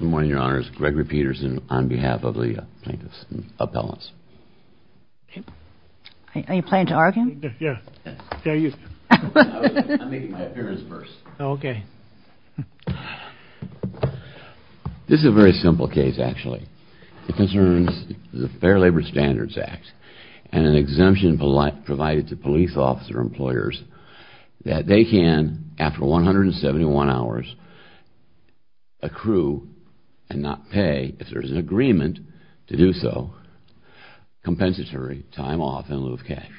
Good morning, Your Honors. Gregory Peterson on behalf of the plaintiffs and appellants. Are you planning to argue? I'm making my appearance first. This is a very simple case, actually. It concerns the Fair Labor Standards Act and an exemption provided to police officers and employers that they can, after 171 hours, accrue and not pay, if there is an agreement to do so, compensatory time off in lieu of cash.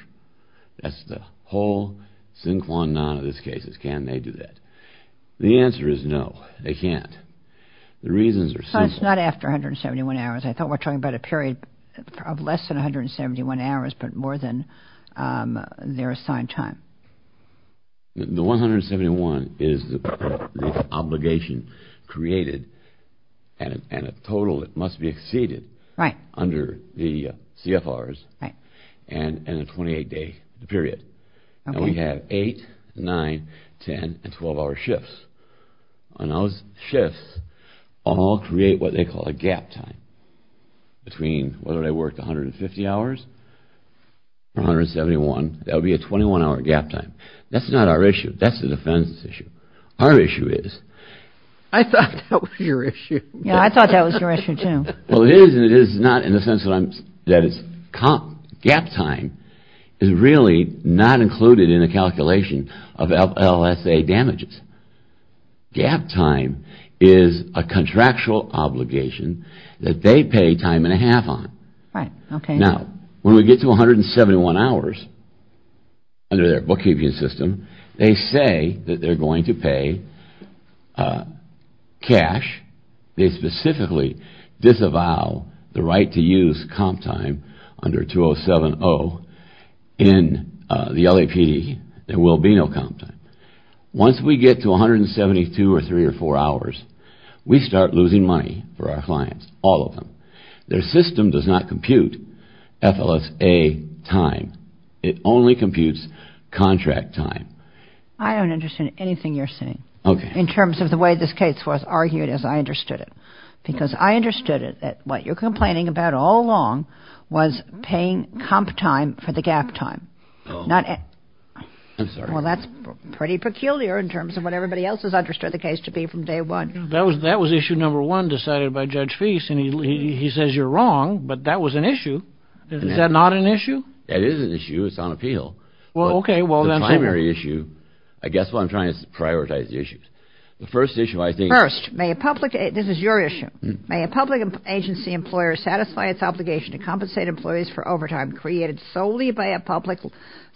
That's the whole sin quo non of this case is can they do that. The answer is no, they can't. The reasons are simple. It's not after 171 hours. I thought we were talking about a period of less than 171 hours but more than their assigned time. The 171 is the obligation created and a total that must be exceeded under the CFRs and a 28-day period. And we have 8, 9, 10, and 12-hour shifts. And those shifts all create what they call a gap time between whether they work 150 hours or 171. That would be a 21-hour gap time. That's not our issue. That's the defense's issue. Our issue is... I thought that was your issue. Yeah, I thought that was your issue, too. Well, it is and it is not in the sense that it's... Gap time is really not included in the calculation of LSA damages. Gap time is a contractual obligation that they pay time and a half on. Right, okay. Now, when we get to 171 hours under their bookkeeping system, they say that they're going to pay cash. They specifically disavow the right to use comp time under 2070 in the LAPD. There will be no comp time. Once we get to 172 or 3 or 4 hours, we start losing money for our clients, all of them. Their system does not compute FLSA time. It only computes contract time. I don't understand anything you're saying. Okay. In terms of the way this case was argued, as I understood it. Because I understood it, that what you're complaining about all along was paying comp time for the gap time. I'm sorry. Well, that's pretty peculiar in terms of what everybody else has understood the case to be from day one. That was issue number one decided by Judge Feist, and he says you're wrong, but that was an issue. Is that not an issue? It is an issue. It's on appeal. Well, okay. I guess what I'm trying to do is prioritize the issues. The first issue I think. First, this is your issue. May a public agency employer satisfy its obligation to compensate employees for overtime created solely by a public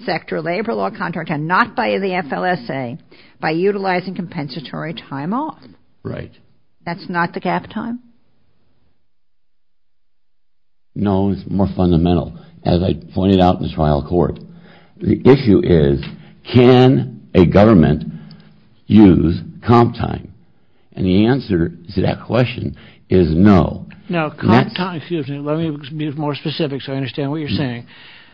sector labor law contract and not by the FLSA by utilizing compensatory time off? Right. That's not the gap time? No, it's more fundamental. As I pointed out in the trial court. The issue is can a government use comp time? And the answer to that question is no. Now, comp time, excuse me, let me be more specific so I understand what you're saying.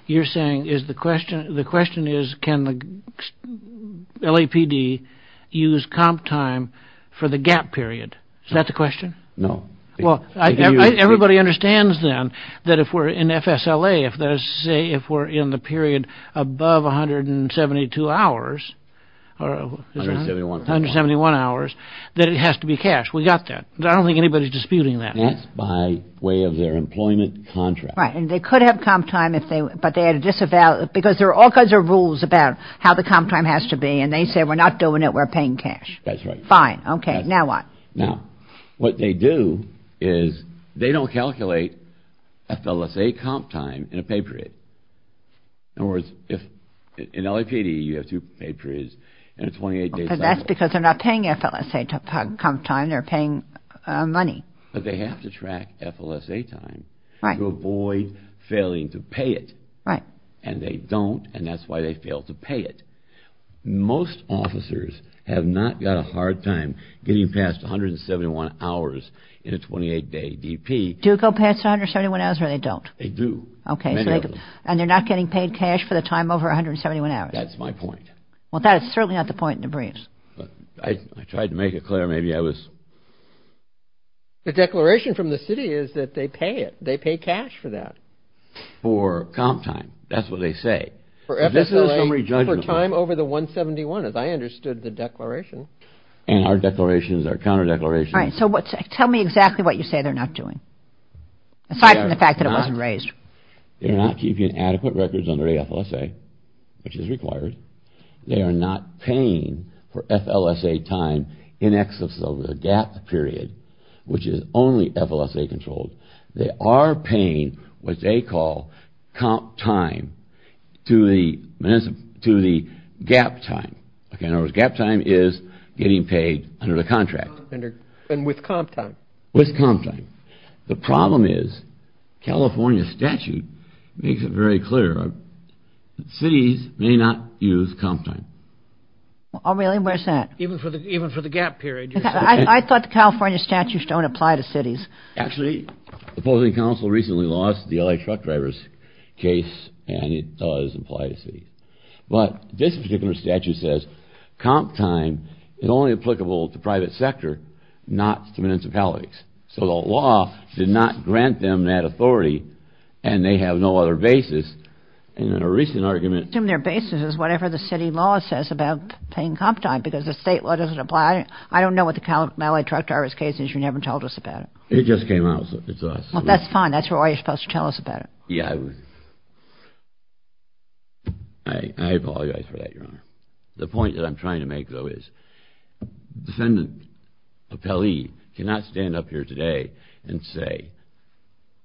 You're saying the question is can the LAPD use comp time for the gap period? Is that the question? No. Well, everybody understands then that if we're in FSLA, if we're in the period above 172 hours, 171 hours, that it has to be cash. We got that. I don't think anybody's disputing that. That's by way of their employment contract. Right. And they could have comp time, but they had to disavow it because there are all kinds of rules about how the comp time has to be, and they say we're not doing it. We're paying cash. That's right. Fine. Okay. Now what? Now, what they do is they don't calculate FLSA comp time in a pay period. In other words, in LAPD, you have two pay periods and a 28-day cycle. But that's because they're not paying FLSA comp time. They're paying money. But they have to track FLSA time to avoid failing to pay it. Right. And they don't, and that's why they fail to pay it. Most officers have not got a hard time getting past 171 hours in a 28-day DP. Do they go past 171 hours or they don't? They do. Okay. And they're not getting paid cash for the time over 171 hours. That's my point. Well, that is certainly not the point in the briefs. I tried to make it clear. Maybe I was. The declaration from the city is that they pay it. They pay cash for that. For comp time. That's what they say. For time over the 171, as I understood the declaration. And our declarations are counter declarations. All right. So tell me exactly what you say they're not doing. Aside from the fact that it wasn't raised. They're not keeping adequate records under FLSA, which is required. They are not paying for FLSA time in excess of the gap period, which is only FLSA-controlled. They are paying what they call comp time to the gap time. Okay. In other words, gap time is getting paid under the contract. And with comp time. With comp time. The problem is California statute makes it very clear. Cities may not use comp time. Oh, really? Where's that? Even for the gap period. I thought the California statutes don't apply to cities. Actually, the opposing council recently lost the LA truck driver's case, and it does apply to cities. But this particular statute says comp time is only applicable to private sector, not to municipalities. So the law did not grant them that authority, and they have no other basis. And in a recent argument. Their basis is whatever the city law says about paying comp time, because the state law doesn't apply. I don't know what the LA truck driver's case is. You never told us about it. It just came out. It's us. That's fine. That's why you're supposed to tell us about it. Yeah. I apologize for that, Your Honor. The point that I'm trying to make, though, is defendant Appellee cannot stand up here today and say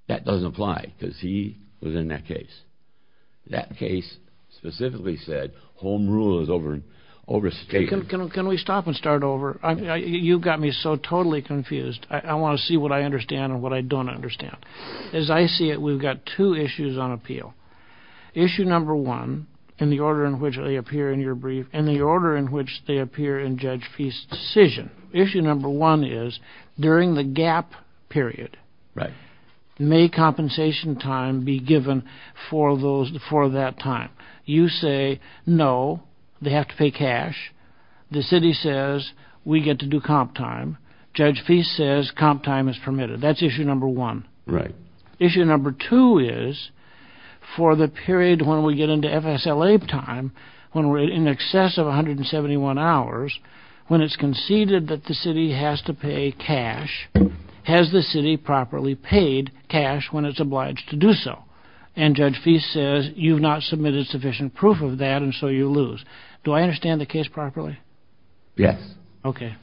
that doesn't apply, because he was in that case. That case specifically said home rule is overstated. Can we stop and start over? You got me so totally confused. I want to see what I understand and what I don't understand. As I see it, we've got two issues on appeal. Issue number one, in the order in which they appear in your brief, and the order in which they appear in Judge Feist's decision. Issue number one is during the gap period, may compensation time be given for that time? You say no, they have to pay cash. The city says we get to do comp time. Judge Feist says comp time is permitted. That's issue number one. Right. Issue number two is for the period when we get into FSLA time, when we're in excess of 171 hours, when it's conceded that the city has to pay cash, has the city properly paid cash when it's obliged to do so? And Judge Feist says you've not submitted sufficient proof of that, and so you lose. Do I understand the case properly? Yes. Okay.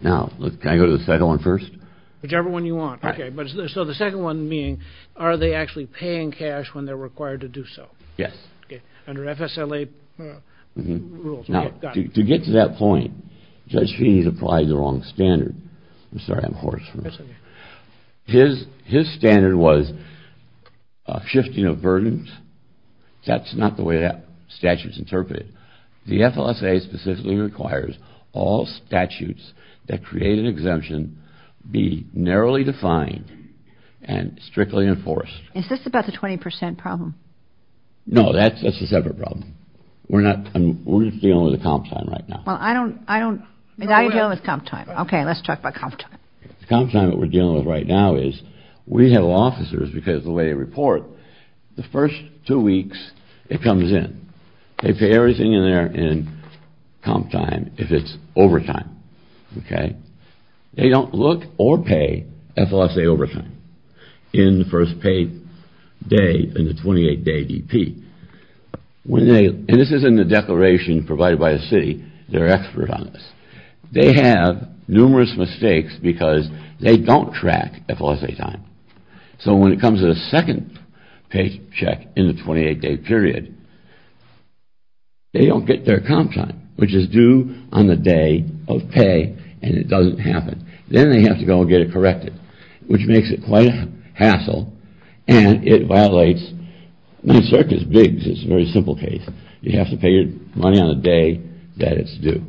Now, can I go to the second one first? Whichever one you want. Okay. So the second one being, are they actually paying cash when they're required to do so? Yes. Okay. Under FSLA rules. Now, to get to that point, Judge Feist applied the wrong standard. I'm sorry, I'm hoarse. His standard was shifting of burdens. That's not the way that statute's interpreted. The FLSA specifically requires all statutes that create an exemption be narrowly defined and strictly enforced. Is this about the 20% problem? No, that's a separate problem. We're dealing with the comp time right now. Well, I don't, I don't, now you're dealing with comp time. Okay, let's talk about comp time. The comp time that we're dealing with right now is we have officers, because of the way they report, the first two weeks it comes in. They pay everything in there in comp time if it's overtime. Okay. They don't look or pay FLSA overtime in the first paid day, in the 28-day DP. When they, and this is in the declaration provided by the city, they're experts on this. They have numerous mistakes because they don't track FLSA time. So when it comes to the second paycheck in the 28-day period, they don't get their comp time, which is due on the day of pay, and it doesn't happen. Then they have to go and get it corrected, which makes it quite a hassle, and it violates, it's a very simple case. You have to pay your money on the day that it's due,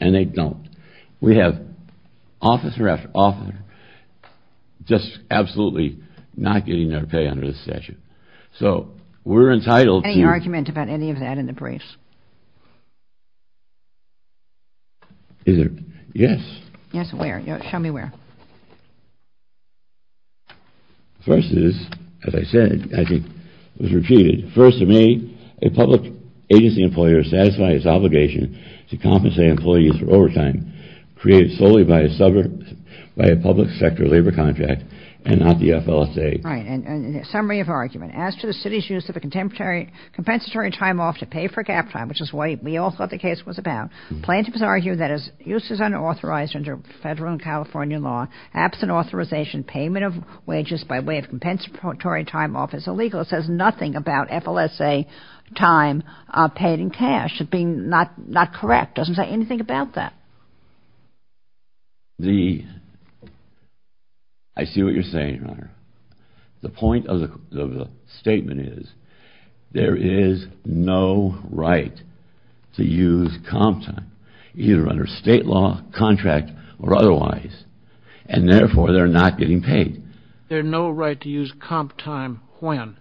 and they don't. We have officer after officer just absolutely not getting their pay under this statute. So we're entitled to- Any argument about any of that in the briefs? Is there? Yes. Yes, where? Show me where. First is, as I said, I think it was repeated. First, to me, a public agency employer satisfies its obligation to compensate employees for overtime created solely by a public sector labor contract and not the FLSA. Right, and summary of argument. As to the city's use of a compensatory time off to pay for gap time, which is what we all thought the case was about, plaintiffs argue that its use is unauthorized under federal and California law. Absent authorization, payment of wages by way of compensatory time off is illegal. It says nothing about FLSA time paid in cash. It's not correct. It doesn't say anything about that. I see what you're saying, Your Honor. The point of the statement is there is no right to use comp time, either under state law, contract, or otherwise, and therefore they're not getting paid. There's no right to use comp time when?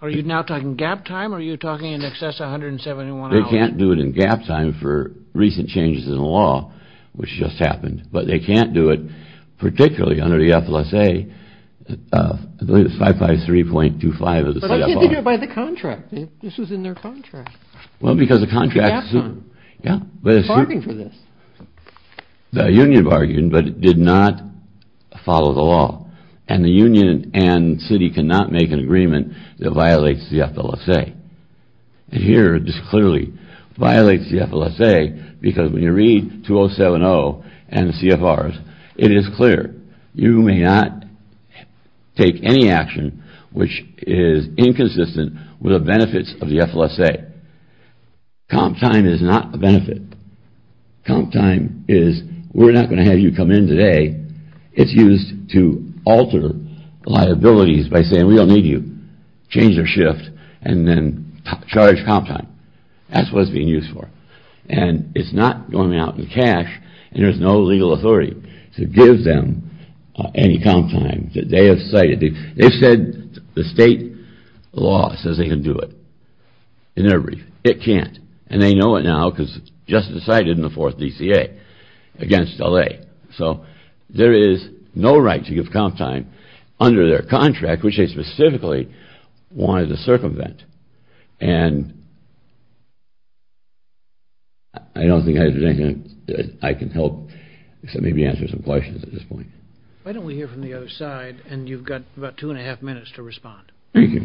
Are you now talking gap time, or are you talking in excess of 171 hours? They can't do it in gap time for recent changes in the law, which just happened. But they can't do it particularly under the FLSA. I believe it's 553.25 of the set-up law. But why didn't they do it by the contract? This was in their contract. Well, because the contract assumed. Yeah. Bargaining for this. The union bargained, but it did not follow the law. And the union and city cannot make an agreement that violates the FLSA. And here it just clearly violates the FLSA, because when you read 2070 and CFRs, it is clear. You may not take any action which is inconsistent with the benefits of the FLSA. Comp time is not a benefit. Comp time is we're not going to have you come in today. It's used to alter liabilities by saying we don't need you. Change their shift and then charge comp time. That's what it's being used for. And it's not going out in cash, and there's no legal authority to give them any comp time. They have cited it. They've said the state law says they can do it. It can't. And they know it now because it just decided in the fourth DCA against LA. So there is no right to give comp time under their contract, which they specifically wanted to circumvent. And I don't think there's anything I can help except maybe answer some questions at this point. Why don't we hear from the other side, and you've got about two and a half minutes to respond. Thank you.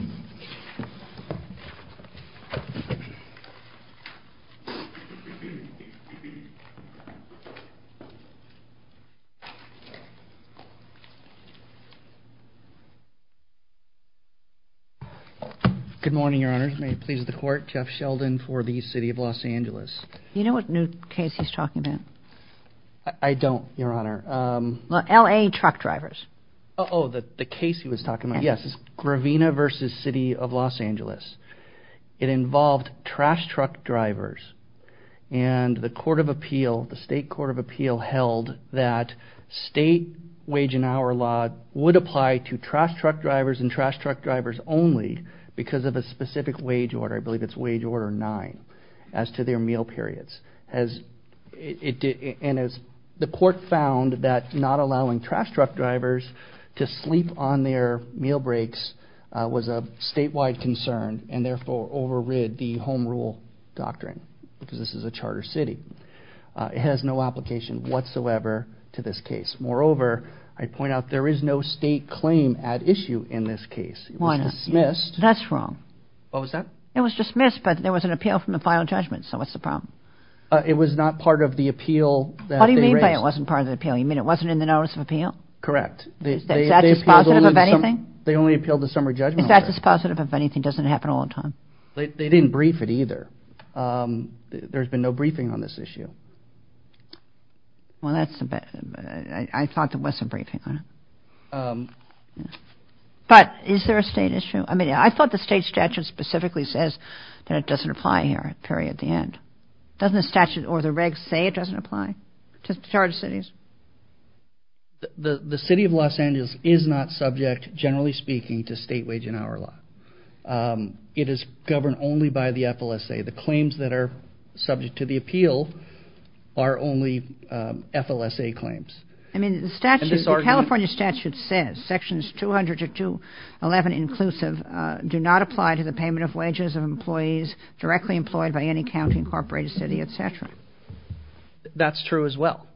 Good morning, Your Honors. May it please the Court. Jeff Sheldon for the city of Los Angeles. You know what new case he's talking about? I don't, Your Honor. LA truck drivers. Oh, the case he was talking about. Yes, Gravina v. City of Los Angeles. It involved trash truck drivers. And the Court of Appeal, the State Court of Appeal, held that state wage and hour law would apply to trash truck drivers and trash truck drivers only because of a specific wage order. I believe it's wage order nine as to their meal periods. And the Court found that not allowing trash truck drivers to sleep on their meal breaks was a statewide concern and therefore overrid the home rule doctrine because this is a charter city. It has no application whatsoever to this case. Moreover, I point out there is no state claim at issue in this case. It was dismissed. That's wrong. What was that? It was dismissed, but there was an appeal from the final judgment. So what's the problem? It was not part of the appeal that they raised. What do you mean by it wasn't part of the appeal? You mean it wasn't in the notice of appeal? Correct. Is that dispositive of anything? They only appealed the summer judgment order. If that's dispositive of anything, it doesn't happen all the time. They didn't brief it either. There's been no briefing on this issue. Well, that's a bad, I thought there was some briefing on it. But is there a state issue? I thought the state statute specifically says that it doesn't apply here, Perry, at the end. Doesn't the statute or the regs say it doesn't apply to charter cities? The city of Los Angeles is not subject, generally speaking, to state wage and hour law. It is governed only by the FLSA. The claims that are subject to the appeal are only FLSA claims. I mean the statute, the California statute says sections 200 to 211 inclusive do not apply to the payment of wages of employees directly employed by any county, incorporated city, et cetera. That's true as well.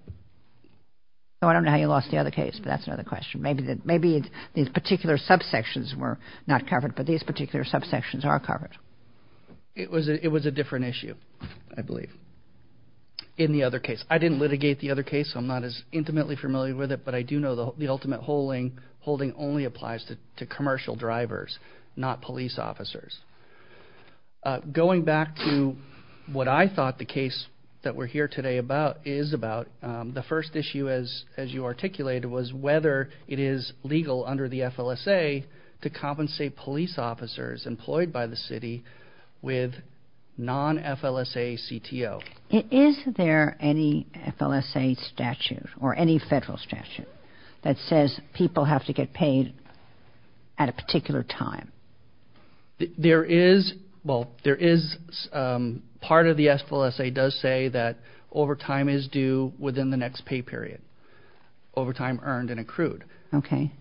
So I don't know how you lost the other case, but that's another question. Maybe these particular subsections were not covered, but these particular subsections are covered. It was a different issue, I believe, in the other case. I didn't litigate the other case, so I'm not as intimately familiar with it, but I do know the ultimate holding only applies to commercial drivers, not police officers. Going back to what I thought the case that we're here today is about, the first issue, as you articulated, was whether it is legal under the FLSA to compensate police officers employed by the city with non-FLSA CTO. Is there any FLSA statute or any federal statute that says people have to get paid at a particular time? There is – well, there is – part of the FLSA does say that overtime is due within the next pay period, overtime earned and accrued. Okay.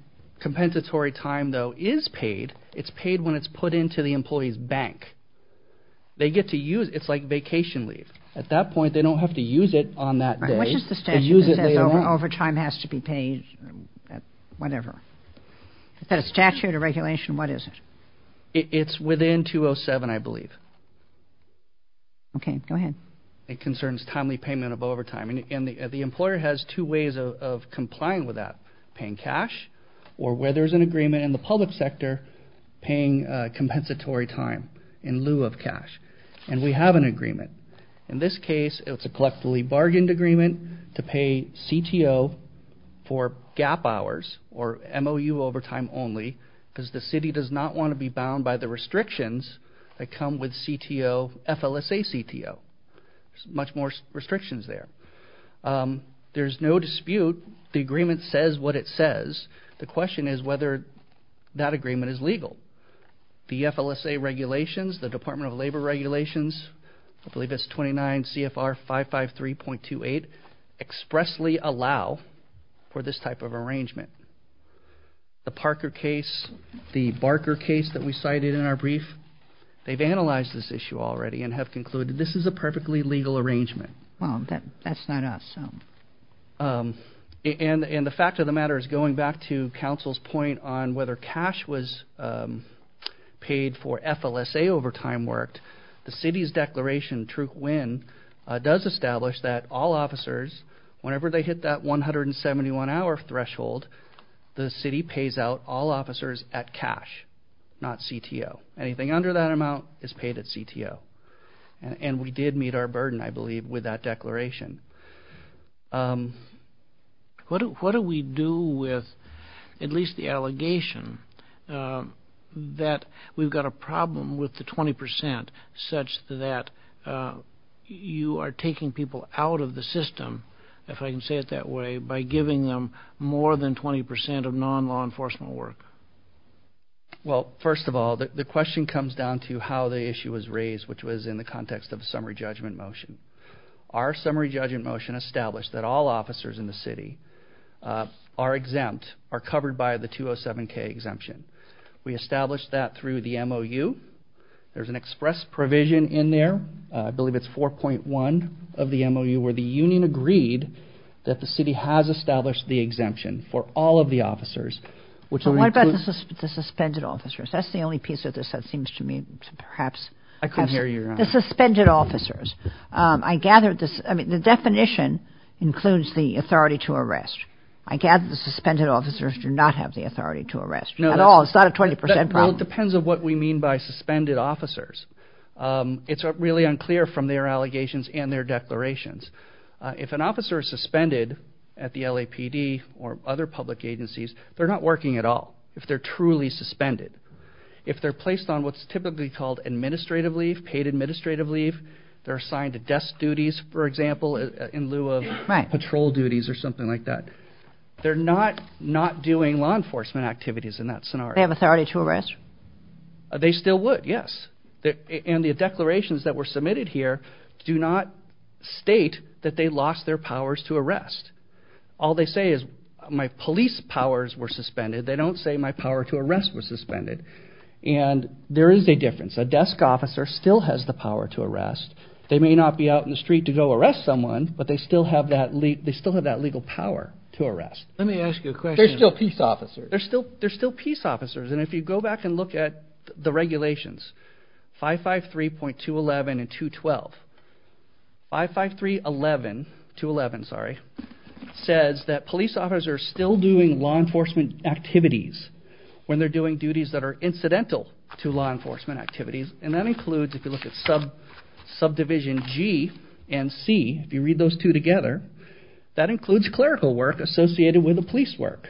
Compensatory time, though, is paid. It's paid when it's put into the employee's bank. They get to use – it's like vacation leave. At that point, they don't have to use it on that day. Which is the statute that says overtime has to be paid at whatever? Is that a statute or regulation? What is it? It's within 207, I believe. Okay. Go ahead. It concerns timely payment of overtime. And the employer has two ways of complying with that, paying cash or, where there's an agreement in the public sector, paying compensatory time in lieu of cash. In this case, it's a collectively bargained agreement to pay CTO for gap hours or MOU overtime only because the city does not want to be bound by the restrictions that come with CTO – FLSA CTO. There's much more restrictions there. There's no dispute. The agreement says what it says. The question is whether that agreement is legal. The FLSA regulations, the Department of Labor regulations, I believe it's 29 CFR 553.28, expressly allow for this type of arrangement. The Parker case, the Barker case that we cited in our brief, they've analyzed this issue already and have concluded this is a perfectly legal arrangement. Well, that's not us. And the fact of the matter is, going back to counsel's point on whether cash was paid for FLSA overtime worked, the city's declaration, Truc Nguyen, does establish that all officers, whenever they hit that 171-hour threshold, the city pays out all officers at cash, not CTO. Anything under that amount is paid at CTO. And we did meet our burden, I believe, with that declaration. What do we do with at least the allegation that we've got a problem with the 20 percent such that you are taking people out of the system, if I can say it that way, by giving them more than 20 percent of non-law enforcement work? Well, first of all, the question comes down to how the issue was raised, which was in the context of a summary judgment motion. Our summary judgment motion established that all officers in the city are exempt, are covered by the 207-K exemption. We established that through the MOU. There's an express provision in there, I believe it's 4.1 of the MOU, where the union agreed that the city has established the exemption for all of the officers. But what about the suspended officers? That's the only piece of this that seems to me to perhaps have – I couldn't hear you, Your Honor. The suspended officers. I gathered this – I mean, the definition includes the authority to arrest. I gather the suspended officers do not have the authority to arrest at all. It's not a 20 percent problem. Well, it depends on what we mean by suspended officers. It's really unclear from their allegations and their declarations. If an officer is suspended at the LAPD or other public agencies, they're not working at all if they're truly suspended. If they're placed on what's typically called administrative leave, paid administrative leave, they're assigned to desk duties, for example, in lieu of patrol duties or something like that. They're not doing law enforcement activities in that scenario. They have authority to arrest? They still would, yes. And the declarations that were submitted here do not state that they lost their powers to arrest. All they say is my police powers were suspended. They don't say my power to arrest was suspended. And there is a difference. A desk officer still has the power to arrest. They may not be out in the street to go arrest someone, but they still have that legal power to arrest. Let me ask you a question. They're still peace officers. They're still peace officers. And if you go back and look at the regulations, 553.211 and 212, 553.211 says that police officers are still doing law enforcement activities when they're doing duties that are incidental to law enforcement activities. And that includes, if you look at subdivision G and C, if you read those two together, that includes clerical work associated with the police work.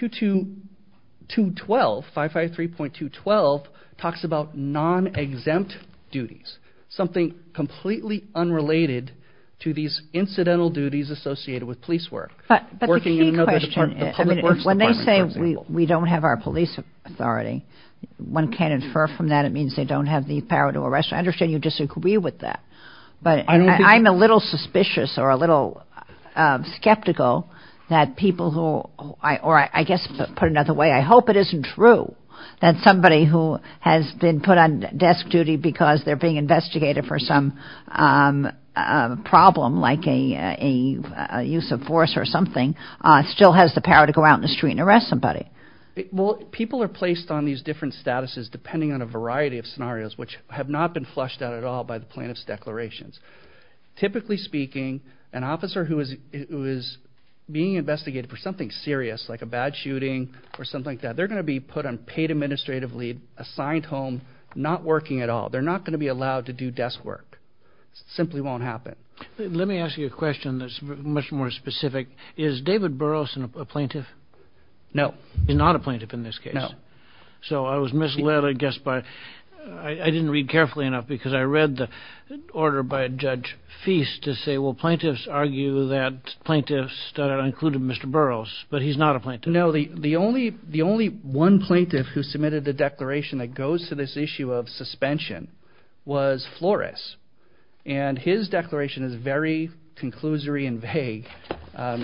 212, 553.211 talks about non-exempt duties, something completely unrelated to these incidental duties associated with police work. But the key question is when they say we don't have our police authority, one can't infer from that it means they don't have the power to arrest. I understand you disagree with that. I'm a little suspicious or a little skeptical that people who, or I guess to put it another way, I hope it isn't true that somebody who has been put on desk duty because they're being investigated for some problem like a use of force or something still has the power to go out in the street and arrest somebody. Well, people are placed on these different statuses depending on a variety of scenarios which have not been flushed out at all by the plaintiff's declarations. Typically speaking, an officer who is being investigated for something serious like a bad shooting or something like that, they're going to be put on paid administrative leave, assigned home, not working at all. They're not going to be allowed to do desk work. It simply won't happen. Let me ask you a question that's much more specific. Is David Burrows a plaintiff? No. He's not a plaintiff in this case? No. So I was misled, I guess, by, I didn't read carefully enough because I read the order by Judge Feist to say, well, plaintiffs argue that plaintiffs included Mr. Burrows, but he's not a plaintiff. No, the only one plaintiff who submitted the declaration that goes to this issue of suspension was Flores. And his declaration is very conclusory and vague.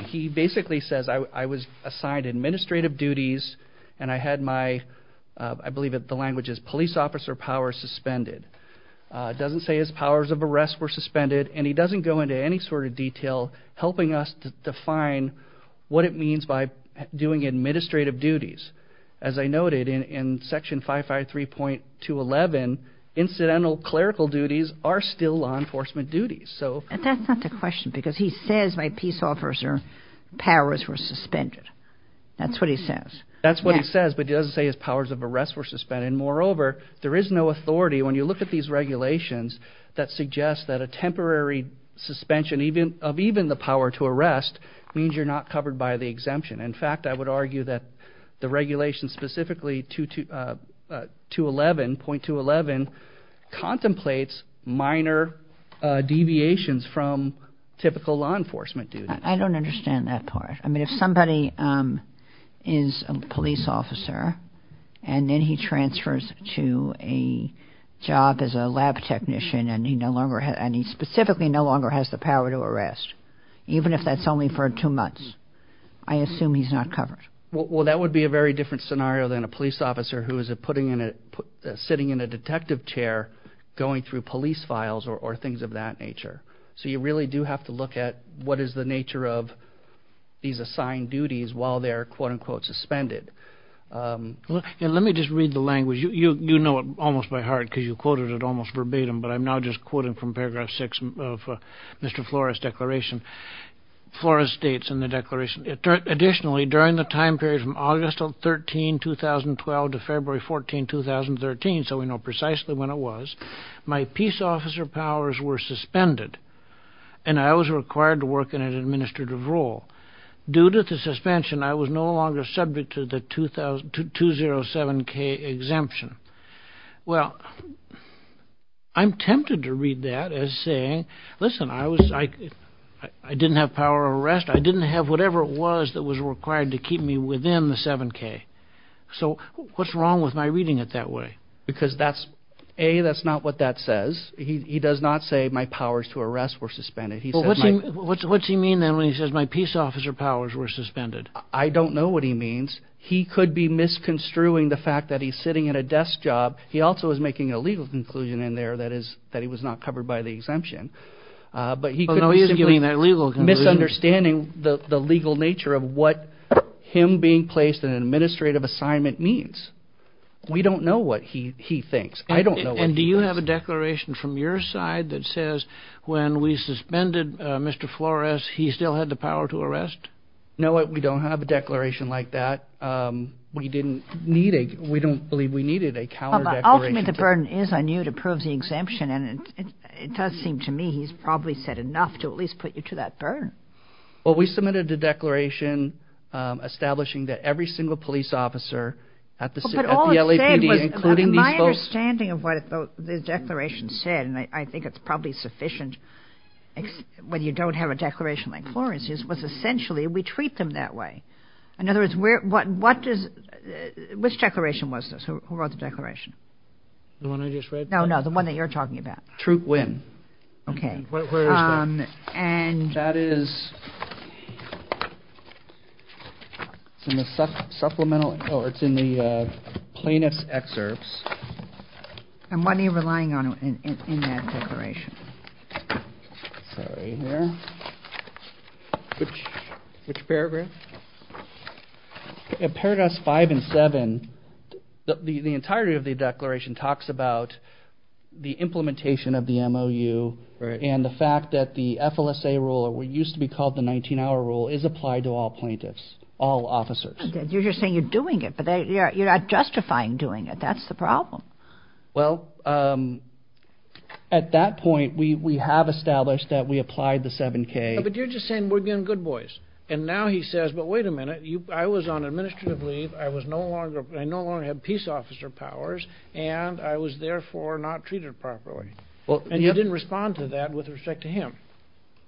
He basically says I was assigned administrative duties and I had my, I believe the language is police officer power suspended. It doesn't say his powers of arrest were suspended, and he doesn't go into any sort of detail helping us define what it means by doing administrative duties. As I noted in Section 553.211, incidental clerical duties are still law enforcement duties. That's not the question, because he says my peace officer powers were suspended. That's what he says. That's what he says, but he doesn't say his powers of arrest were suspended. And moreover, there is no authority, when you look at these regulations, that suggest that a temporary suspension of even the power to arrest means you're not covered by the exemption. In fact, I would argue that the regulation specifically, 2.211, contemplates minor deviations from typical law enforcement duties. I don't understand that part. I mean, if somebody is a police officer and then he transfers to a job as a lab technician and he specifically no longer has the power to arrest, even if that's only for two months, I assume he's not covered. Well, that would be a very different scenario than a police officer who is sitting in a detective chair going through police files or things of that nature. So you really do have to look at what is the nature of these assigned duties while they're, quote-unquote, suspended. Let me just read the language. You know it almost by heart because you quoted it almost verbatim, but I'm now just quoting from Paragraph 6 of Mr. Flores' declaration. Flores states in the declaration, Additionally, during the time period from August 13, 2012 to February 14, 2013, so we know precisely when it was, my peace officer powers were suspended and I was required to work in an administrative role. Due to the suspension, I was no longer subject to the 207k exemption. Well, I'm tempted to read that as saying, listen, I didn't have power of arrest. I didn't have whatever it was that was required to keep me within the 7k. So what's wrong with my reading it that way? Because that's, A, that's not what that says. He does not say my powers to arrest were suspended. What's he mean then when he says my peace officer powers were suspended? I don't know what he means. He could be misconstruing the fact that he's sitting at a desk job. He also is making a legal conclusion in there that is that he was not covered by the exemption. But he could be simply misunderstanding the legal nature of what him being placed in an administrative assignment means. We don't know what he thinks. I don't know. And do you have a declaration from your side that says when we suspended Mr. Flores, he still had the power to arrest? No, we don't have a declaration like that. We didn't need it. We don't believe we needed a counter declaration. Ultimately, the burden is on you to prove the exemption. And it does seem to me he's probably said enough to at least put you to that burden. Well, we submitted a declaration establishing that every single police officer at the LAPD, including these folks. My understanding of what the declaration said, and I think it's probably sufficient, whether you don't have a declaration like Flores's, was essentially we treat them that way. In other words, which declaration was this? Who wrote the declaration? The one I just read? No, no, the one that you're talking about. Troop win. Okay. Where is that? That is in the supplemental. Oh, it's in the plaintiff's excerpts. And what are you relying on in that declaration? It's right here. Which paragraph? In paragraphs five and seven, the entirety of the declaration talks about the implementation of the MOU and the fact that the FLSA rule, or what used to be called the 19-hour rule, is applied to all plaintiffs, all officers. You're just saying you're doing it, but you're not justifying doing it. That's the problem. Well, at that point, we have established that we applied the 7K. But you're just saying we're being good boys. And now he says, but wait a minute, I was on administrative leave. I no longer had peace officer powers, and I was therefore not treated properly. And you didn't respond to that with respect to him.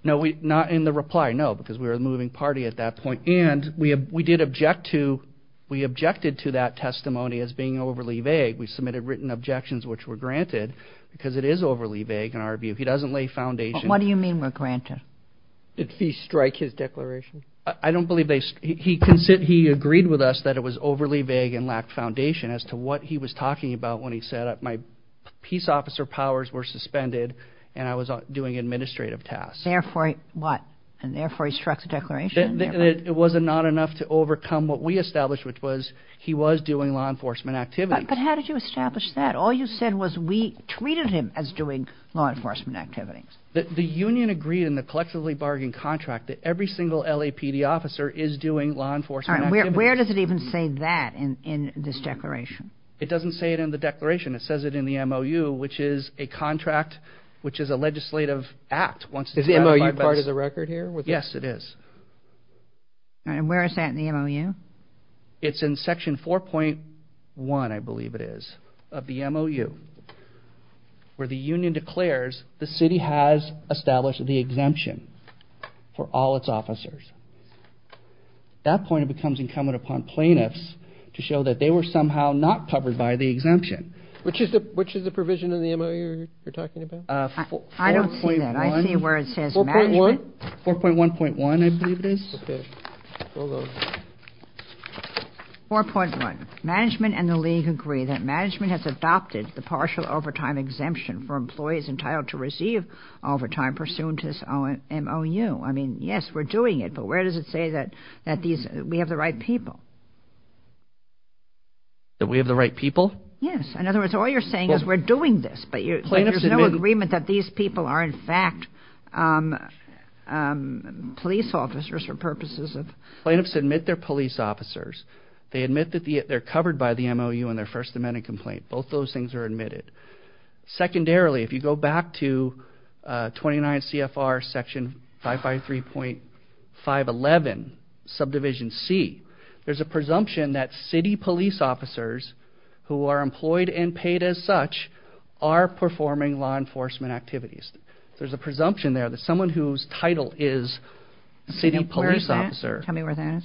No, not in the reply, no, because we were a moving party at that point. And we did object to, we objected to that testimony as being overly vague. We submitted written objections, which were granted, because it is overly vague in our view. He doesn't lay foundation. What do you mean were granted? Did he strike his declaration? I don't believe they, he agreed with us that it was overly vague and lacked foundation as to what he was talking about when he said, my peace officer powers were suspended, and I was doing administrative tasks. Therefore, what? And therefore, he struck the declaration. It was not enough to overcome what we established, which was he was doing law enforcement activities. But how did you establish that? All you said was we treated him as doing law enforcement activities. The union agreed in the collectively bargained contract that every single LAPD officer is doing law enforcement activities. Where does it even say that in this declaration? It doesn't say it in the declaration. It says it in the MOU, which is a contract, which is a legislative act. Is the MOU part of the record here? Yes, it is. And where is that in the MOU? It's in section 4.1, I believe it is, of the MOU, where the union declares the city has established the exemption for all its officers. At that point, it becomes incumbent upon plaintiffs to show that they were somehow not covered by the exemption. Which is the provision in the MOU you're talking about? I don't see that. I see where it says management. 4.1? 4.1.1, I believe it is. Okay. 4.1. Management and the league agree that management has adopted the partial overtime exemption for employees entitled to receive overtime pursuant to this MOU. I mean, yes, we're doing it, but where does it say that we have the right people? That we have the right people? Yes. In other words, all you're saying is we're doing this. But there's no agreement that these people are, in fact, police officers for purposes of... Plaintiffs admit they're police officers. They admit that they're covered by the MOU in their First Amendment complaint. Both those things are admitted. Secondarily, if you go back to 29 CFR section 553.511 subdivision C, there's a presumption that city police officers who are employed and paid as such are performing law enforcement activities. There's a presumption there that someone whose title is city police officer... Where is that? Tell me where that is.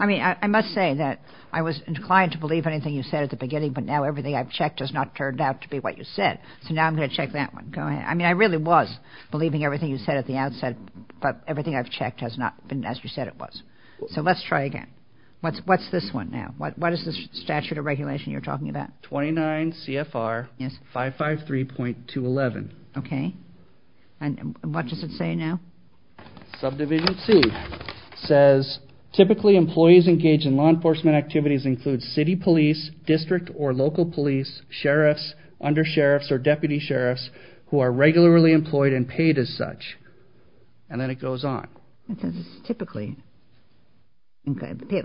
I mean, I must say that I was inclined to believe anything you said at the beginning, but now everything I've checked has not turned out to be what you said. So now I'm going to check that one. Go ahead. I mean, I really was believing everything you said at the outset, but everything I've checked has not been as you said it was. So let's try again. What's this one now? What is this statute of regulation you're talking about? 29 CFR 553.211. Okay. And what does it say now? Subdivision C says typically employees engaged in law enforcement activities include city police, district or local police, sheriffs, undersheriffs, or deputy sheriffs who are regularly employed and paid as such. And then it goes on. It says typically.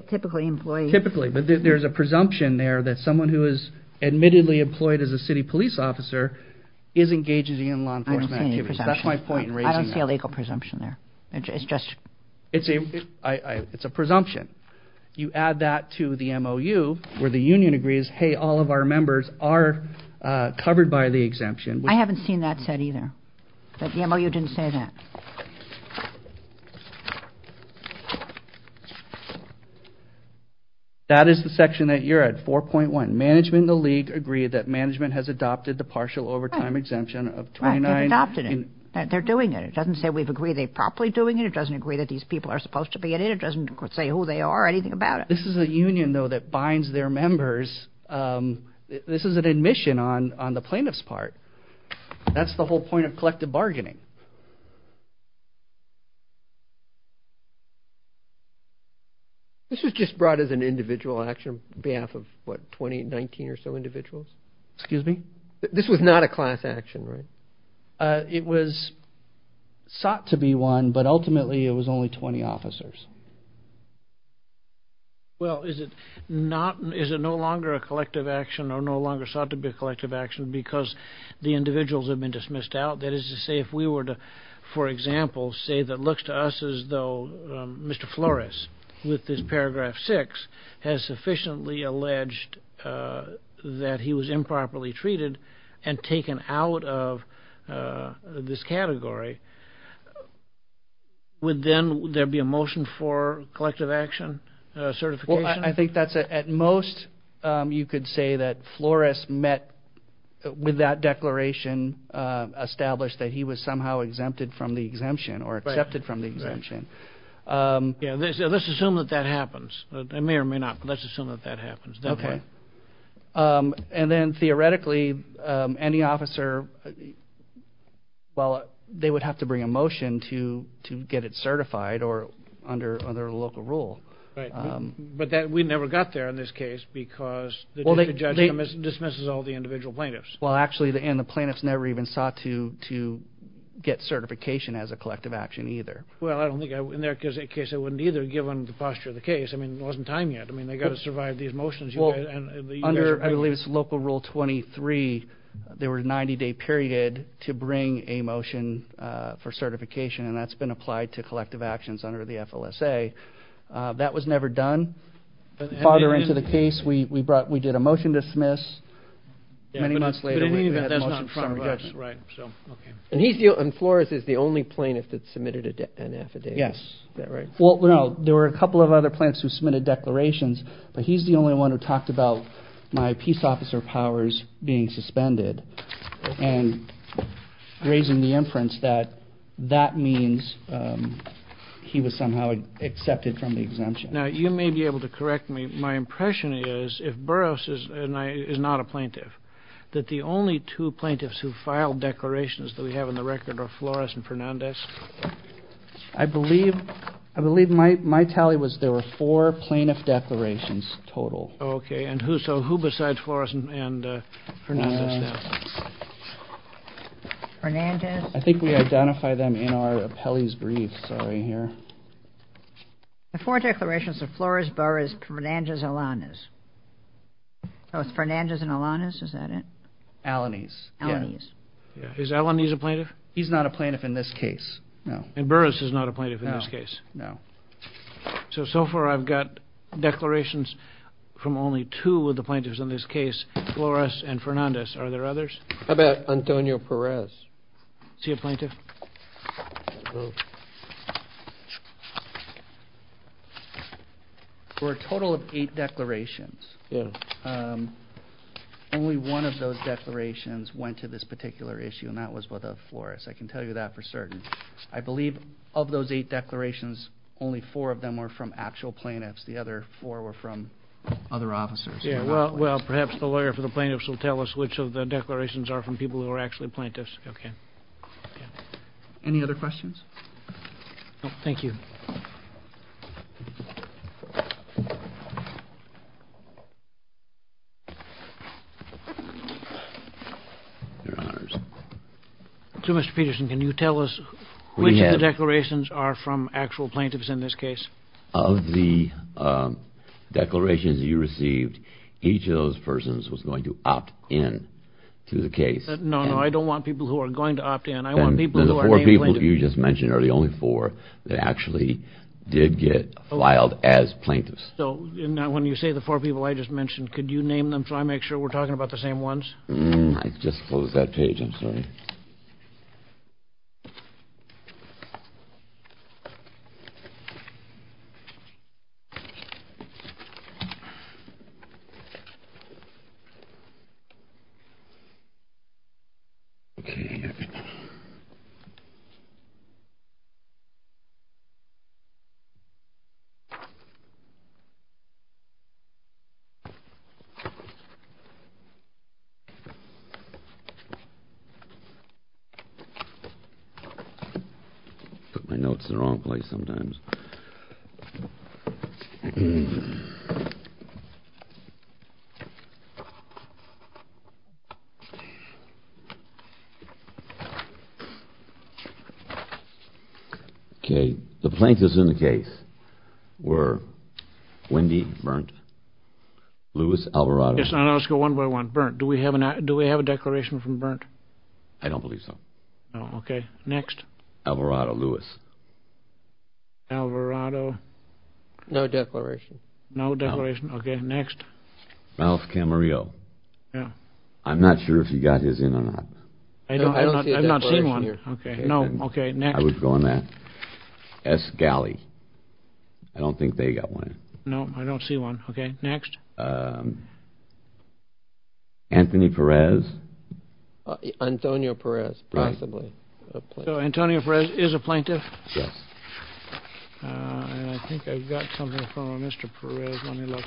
Typically employed... Typically. But there's a presumption there that someone who is admittedly employed as a city police officer is engaged in law enforcement activities. I don't see any presumption. There's no presumption there. It's just... It's a presumption. You add that to the MOU where the union agrees, hey, all of our members are covered by the exemption. I haven't seen that said either. The MOU didn't say that. That is the section that you're at, 4.1. Management and the league agree that management has adopted the partial overtime exemption of 29... Right, they've adopted it. They're doing it. It doesn't say we've agreed they're properly doing it. It doesn't agree that these people are supposed to be in it. It doesn't say who they are or anything about it. This is a union, though, that binds their members. This is an admission on the plaintiff's part. That's the whole point of collective bargaining. This was just brought as an individual action on behalf of, what, 20, 19 or so individuals? Excuse me? This was not a class action, right? It was sought to be one, but ultimately it was only 20 officers. Well, is it no longer a collective action or no longer sought to be a collective action because the individuals have been dismissed out? That is to say, if we were to, for example, say that looks to us as though Mr. Flores, with this paragraph 6, has sufficiently alleged that he was improperly treated and taken out of this category, would then there be a motion for collective action certification? Well, I think that's at most you could say that Flores met with that declaration established that he was somehow exempted from the exemption or accepted from the exemption. Yeah, let's assume that that happens. It may or may not, but let's assume that that happens. Okay. And then theoretically, any officer, well, they would have to bring a motion to get it certified or under a local rule. Right. But we never got there in this case because the district judge dismisses all the individual plaintiffs. Well, actually, and the plaintiffs never even sought to get certification as a collective action either. Well, I don't think in their case they wouldn't either, given the posture of the case. I mean, there wasn't time yet. I mean, they've got to survive these motions. Well, under, I believe it's local rule 23, there was a 90-day period to bring a motion for certification, and that's been applied to collective actions under the FLSA. That was never done. Farther into the case, we did a motion dismiss. Many months later, we had a motion for some reduction. Right. And Flores is the only plaintiff that submitted an affidavit. Yes. Is that right? Well, no, there were a couple of other plaintiffs who submitted declarations, but he's the only one who talked about my peace officer powers being suspended and raising the inference that that means he was somehow accepted from the exemption. Now, you may be able to correct me. My impression is if Burroughs is not a plaintiff, that the only two plaintiffs who filed declarations that we have on the record are Flores and Fernandez. I believe my tally was there were four plaintiff declarations total. Okay. And who besides Flores and Fernandez? Fernandez. Sorry. The four declarations are Flores, Burroughs, Fernandez, and Alaniz. Fernandez and Alaniz, is that it? Alaniz. Alaniz. Is Alaniz a plaintiff? He's not a plaintiff in this case. No. And Burroughs is not a plaintiff in this case? No. So, so far I've got declarations from only two of the plaintiffs in this case, Flores and Fernandez. Are there others? How about Antonio Perez? Is he a plaintiff? No. For a total of eight declarations, only one of those declarations went to this particular issue, and that was with Flores. I can tell you that for certain. I believe of those eight declarations, only four of them were from actual plaintiffs. The other four were from other officers. Well, perhaps the lawyer for the plaintiffs will tell us which of the declarations are from people who are actually plaintiffs. Okay. Any other questions? No, thank you. Your Honors. So, Mr. Peterson, can you tell us which of the declarations are from actual plaintiffs in this case? Of the declarations you received, each of those persons was going to opt in to the case. No, no, I don't want people who are going to opt in. Then the four people you just mentioned are the only four that actually did get filed as plaintiffs. So, when you say the four people I just mentioned, could you name them so I make sure we're talking about the same ones? I just closed that page. I'm sorry. Okay. I put my notes in the wrong place sometimes. Okay. The plaintiffs in the case were Wendy Berndt, Louis Alvarado. Yes, let's go one by one. Berndt. Do we have a declaration from Berndt? I don't believe so. Okay. Next. Alvarado, Louis. Alvarado. No declaration. No declaration. Okay. Next. Ralph Camarillo. Yeah. I'm not sure if he got his in or not. I don't see a declaration here. I've not seen one. Okay. No. Okay. Next. I would go on that. S. Galley. I don't think they got one in. No, I don't see one. Okay. Next. Anthony Perez. Antonio Perez. Possibly. Antonio Perez is a plaintiff. Yes. And I think I've got something from Mr. Perez. Let me look.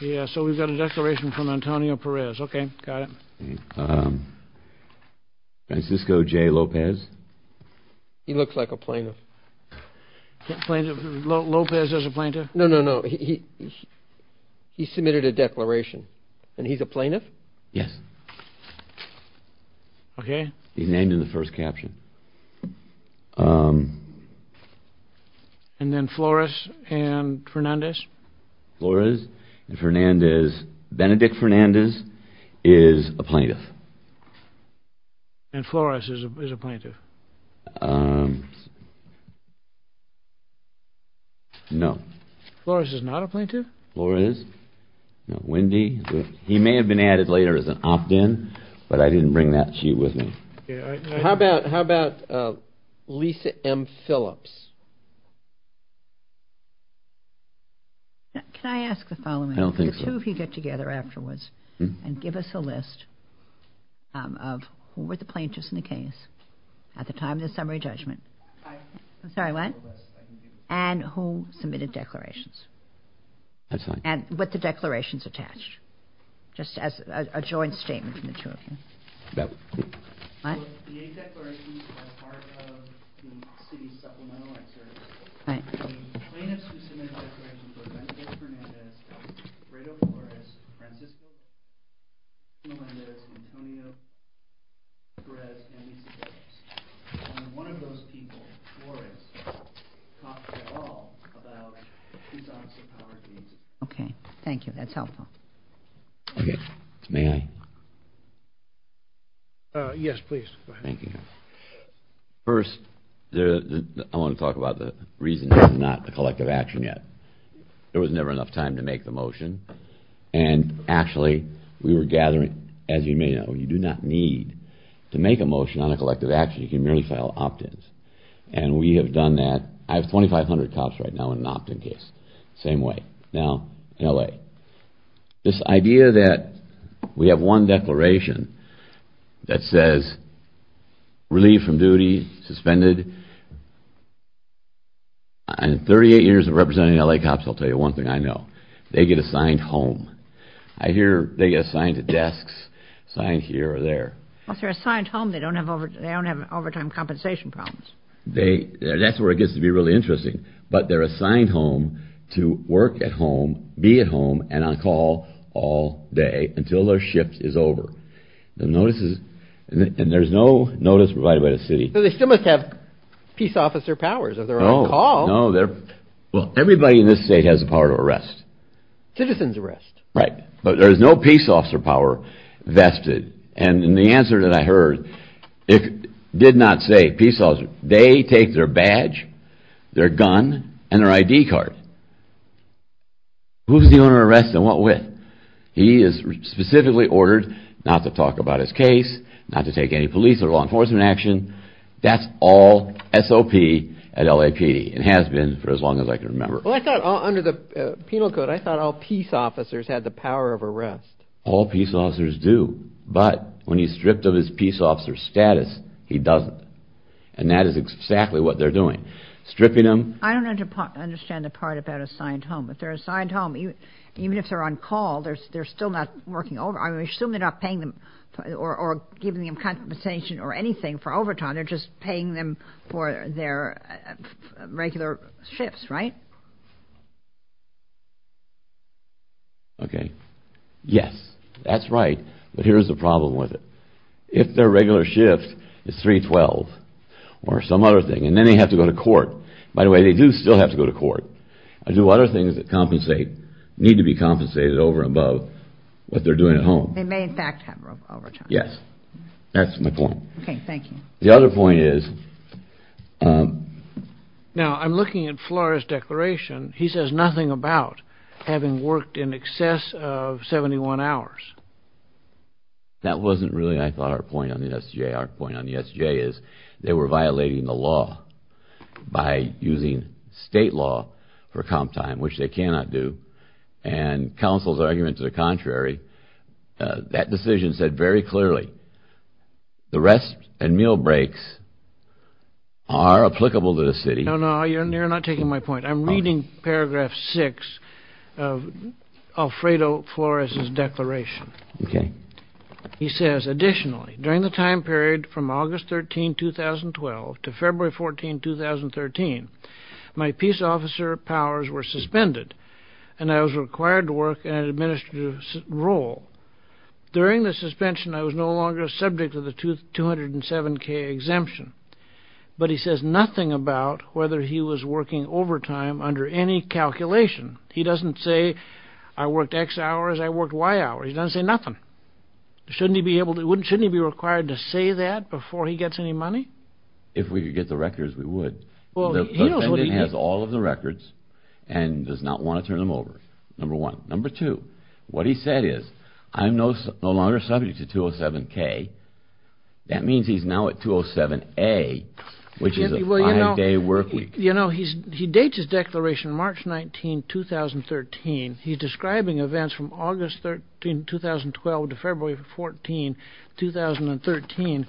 Yeah, so we've got a declaration from Antonio Perez. Okay, got it. Francisco J. Lopez. He looks like a plaintiff. Lopez is a plaintiff? No, no, no. He submitted a declaration. And he's a plaintiff? Yes. Okay. He's named in the first caption. And then Flores and Fernandez. Flores and Fernandez. Benedict Fernandez is a plaintiff. And Flores is a plaintiff. No. Flores is not a plaintiff? Flores? No. Wendy? He may have been added later as an opt-in, but I didn't bring that sheet with me. How about Lisa M. Phillips? Can I ask the following? I don't think so. The two of you get together afterwards and give us a list of who were the plaintiffs in the case. At the time of the summary judgment. I... I'm sorry, what? And who submitted declarations. That's fine. And with the declarations attached. Just as a joint statement from the two of you. Yep. What? So, the eight declarations are part of the city's supplemental exercise. The plaintiffs who submitted declarations were Benedict Fernandez, Rado Flores, Francisco, Florendez, Antonio, Perez, and Lisa Phillips. And one of those people, Flores, talked at all about his office of power. Okay. Thank you. That's helpful. Okay. May I? Yes, please. Thank you. First, I want to talk about the reason this is not a collective action yet. There was never enough time to make the motion. And actually, we were gathering, as you may know, you do not need to make a motion on a collective action. You can merely file opt-ins. And we have done that. I have 2,500 cops right now in an opt-in case. Same way. Now, in L.A., this idea that we have one declaration that says, relieve from duty, suspended. In 38 years of representing L.A. cops, I'll tell you one thing I know. They get assigned home. I hear they get assigned to desks, assigned here or there. Well, if they're assigned home, they don't have overtime compensation problems. That's where it gets to be really interesting. But they're assigned home to work at home, be at home, and on call all day until their shift is over. And there's no notice provided by the city. So they still must have peace officer powers if they're on call. No. Well, everybody in this state has the power to arrest. Citizen's arrest. Right. But there's no peace officer power vested. And the answer that I heard did not say peace officer. They take their badge, their gun, and their I.D. card. Who's dealing with arrests and what with? He is specifically ordered not to talk about his case, not to take any police or law enforcement action. That's all SOP at LAPD and has been for as long as I can remember. Well, I thought under the penal code, I thought all peace officers had the power of arrest. All peace officers do. But when he's stripped of his peace officer status, he doesn't. And that is exactly what they're doing. Stripping them. I don't understand the part about assigned home. If they're assigned home, even if they're on call, they're still not working overtime. I assume they're not paying them or giving them compensation or anything for overtime. They're just paying them for their regular shifts, right? Okay. Yes, that's right. But here's the problem with it. If their regular shift is 312 or some other thing, and then they have to go to court. By the way, they do still have to go to court and do other things that compensate, need to be compensated over and above what they're doing at home. They may, in fact, have overtime. Yes. That's my point. Okay. Thank you. The other point is. Now, I'm looking at Flora's declaration. He says nothing about having worked in excess of 71 hours. That wasn't really, I thought, our point on the SJ. Our point on the SJ is they were violating the law by using state law for comp time, which they cannot do. And counsel's argument to the contrary. That decision said very clearly the rest and meal breaks are applicable to the city. No, no, you're not taking my point. I'm reading paragraph six of Alfredo Flores' declaration. Okay. He says, additionally, during the time period from August 13, 2012 to February 14, 2013, my peace officer powers were suspended, and I was required to work in an administrative role. During the suspension, I was no longer subject to the 207K exemption. But he says nothing about whether he was working overtime under any calculation. He doesn't say I worked X hours, I worked Y hours. He doesn't say nothing. Shouldn't he be required to say that before he gets any money? If we could get the records, we would. The defendant has all of the records and does not want to turn them over, number one. Number two, what he said is I'm no longer subject to 207K. That means he's now at 207A, which is a five-day work week. You know, he dates his declaration March 19, 2013. He's describing events from August 13, 2012 to February 14, 2013.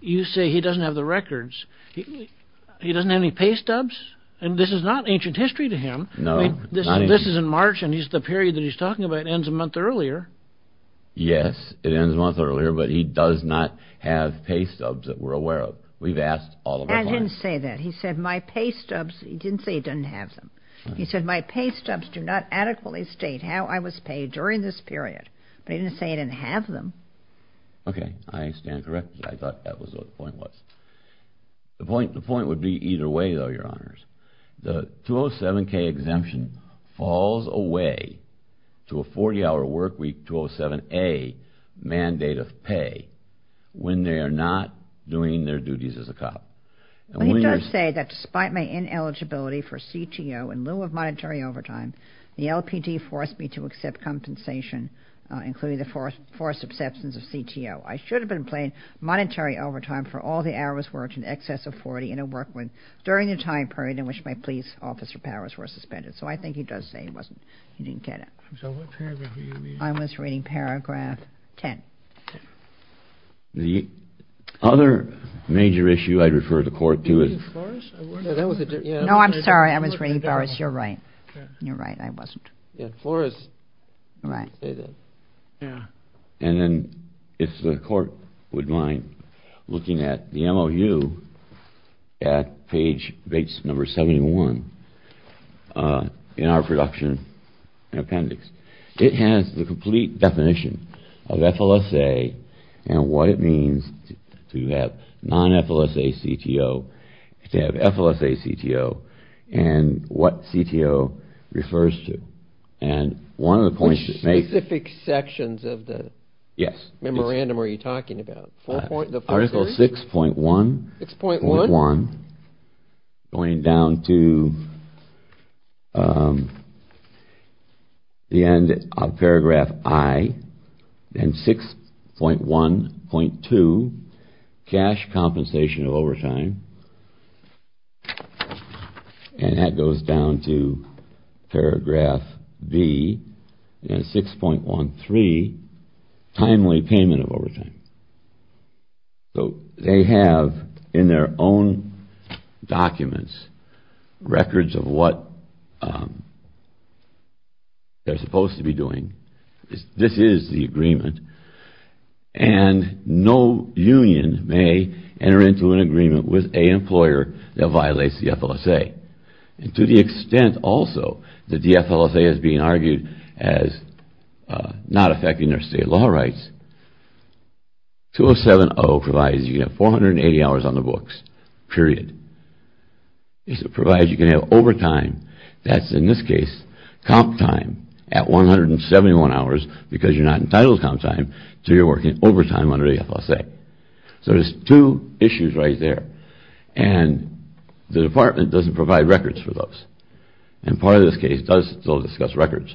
You say he doesn't have the records. He doesn't have any pay stubs? And this is not ancient history to him. No. This is in March, and the period that he's talking about ends a month earlier. Yes, it ends a month earlier, but he does not have pay stubs that we're aware of. We've asked all of our clients. I didn't say that. He said my pay stubs, he didn't say he didn't have them. He said my pay stubs do not adequately state how I was paid during this period. But he didn't say he didn't have them. Okay, I stand corrected. I thought that was what the point was. The point would be either way, though, Your Honors. The 207K exemption falls away to a 40-hour work week 207A mandate of pay when they are not doing their duties as a cop. He does say that despite my ineligibility for CTO in lieu of monetary overtime, the LPD forced me to accept compensation, including the forced acceptance of CTO. I should have been paid monetary overtime for all the hours worked in excess of 40 in a work week during the time period in which my police officer powers were suspended. So I think he does say he didn't get it. So what paragraph were you reading? I was reading paragraph 10. The other major issue I'd refer the Court to is— Were you reading Boris? No, I'm sorry. I was reading Boris. Boris, you're right. You're right. I wasn't. Yeah, Boris did say that. And then if the Court would mind looking at the MOU at page number 71 in our production appendix. It has the complete definition of FLSA and what it means to have non-FLSA CTO, to have FLSA CTO, and what CTO refers to. And one of the points— Which specific sections of the memorandum are you talking about? Article 6.1. 6.1? 6.1, going down to the end of paragraph I, and 6.1.2, cash compensation of overtime. And that goes down to paragraph B, and 6.13, timely payment of overtime. So they have in their own documents records of what they're supposed to be doing. This is the agreement. And no union may enter into an agreement with an employer that violates the FLSA. And to the extent also that the FLSA is being argued as not affecting their state law rights, 207.0 provides you can have 480 hours on the books, period. It provides you can have overtime, that's in this case comp time, at 171 hours, because you're not entitled to comp time, so you're working overtime under the FLSA. So there's two issues right there. And the department doesn't provide records for those. And part of this case does still discuss records.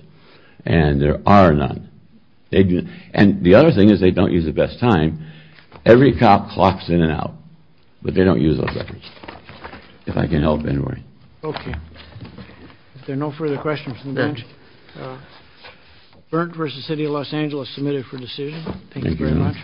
And there are none. And the other thing is they don't use the best time. Every cop clocks in and out, but they don't use those records, if I can help in any way. Okay. If there are no further questions from the bench, Berndt v. City of Los Angeles, submitted for decision. Thank you very much.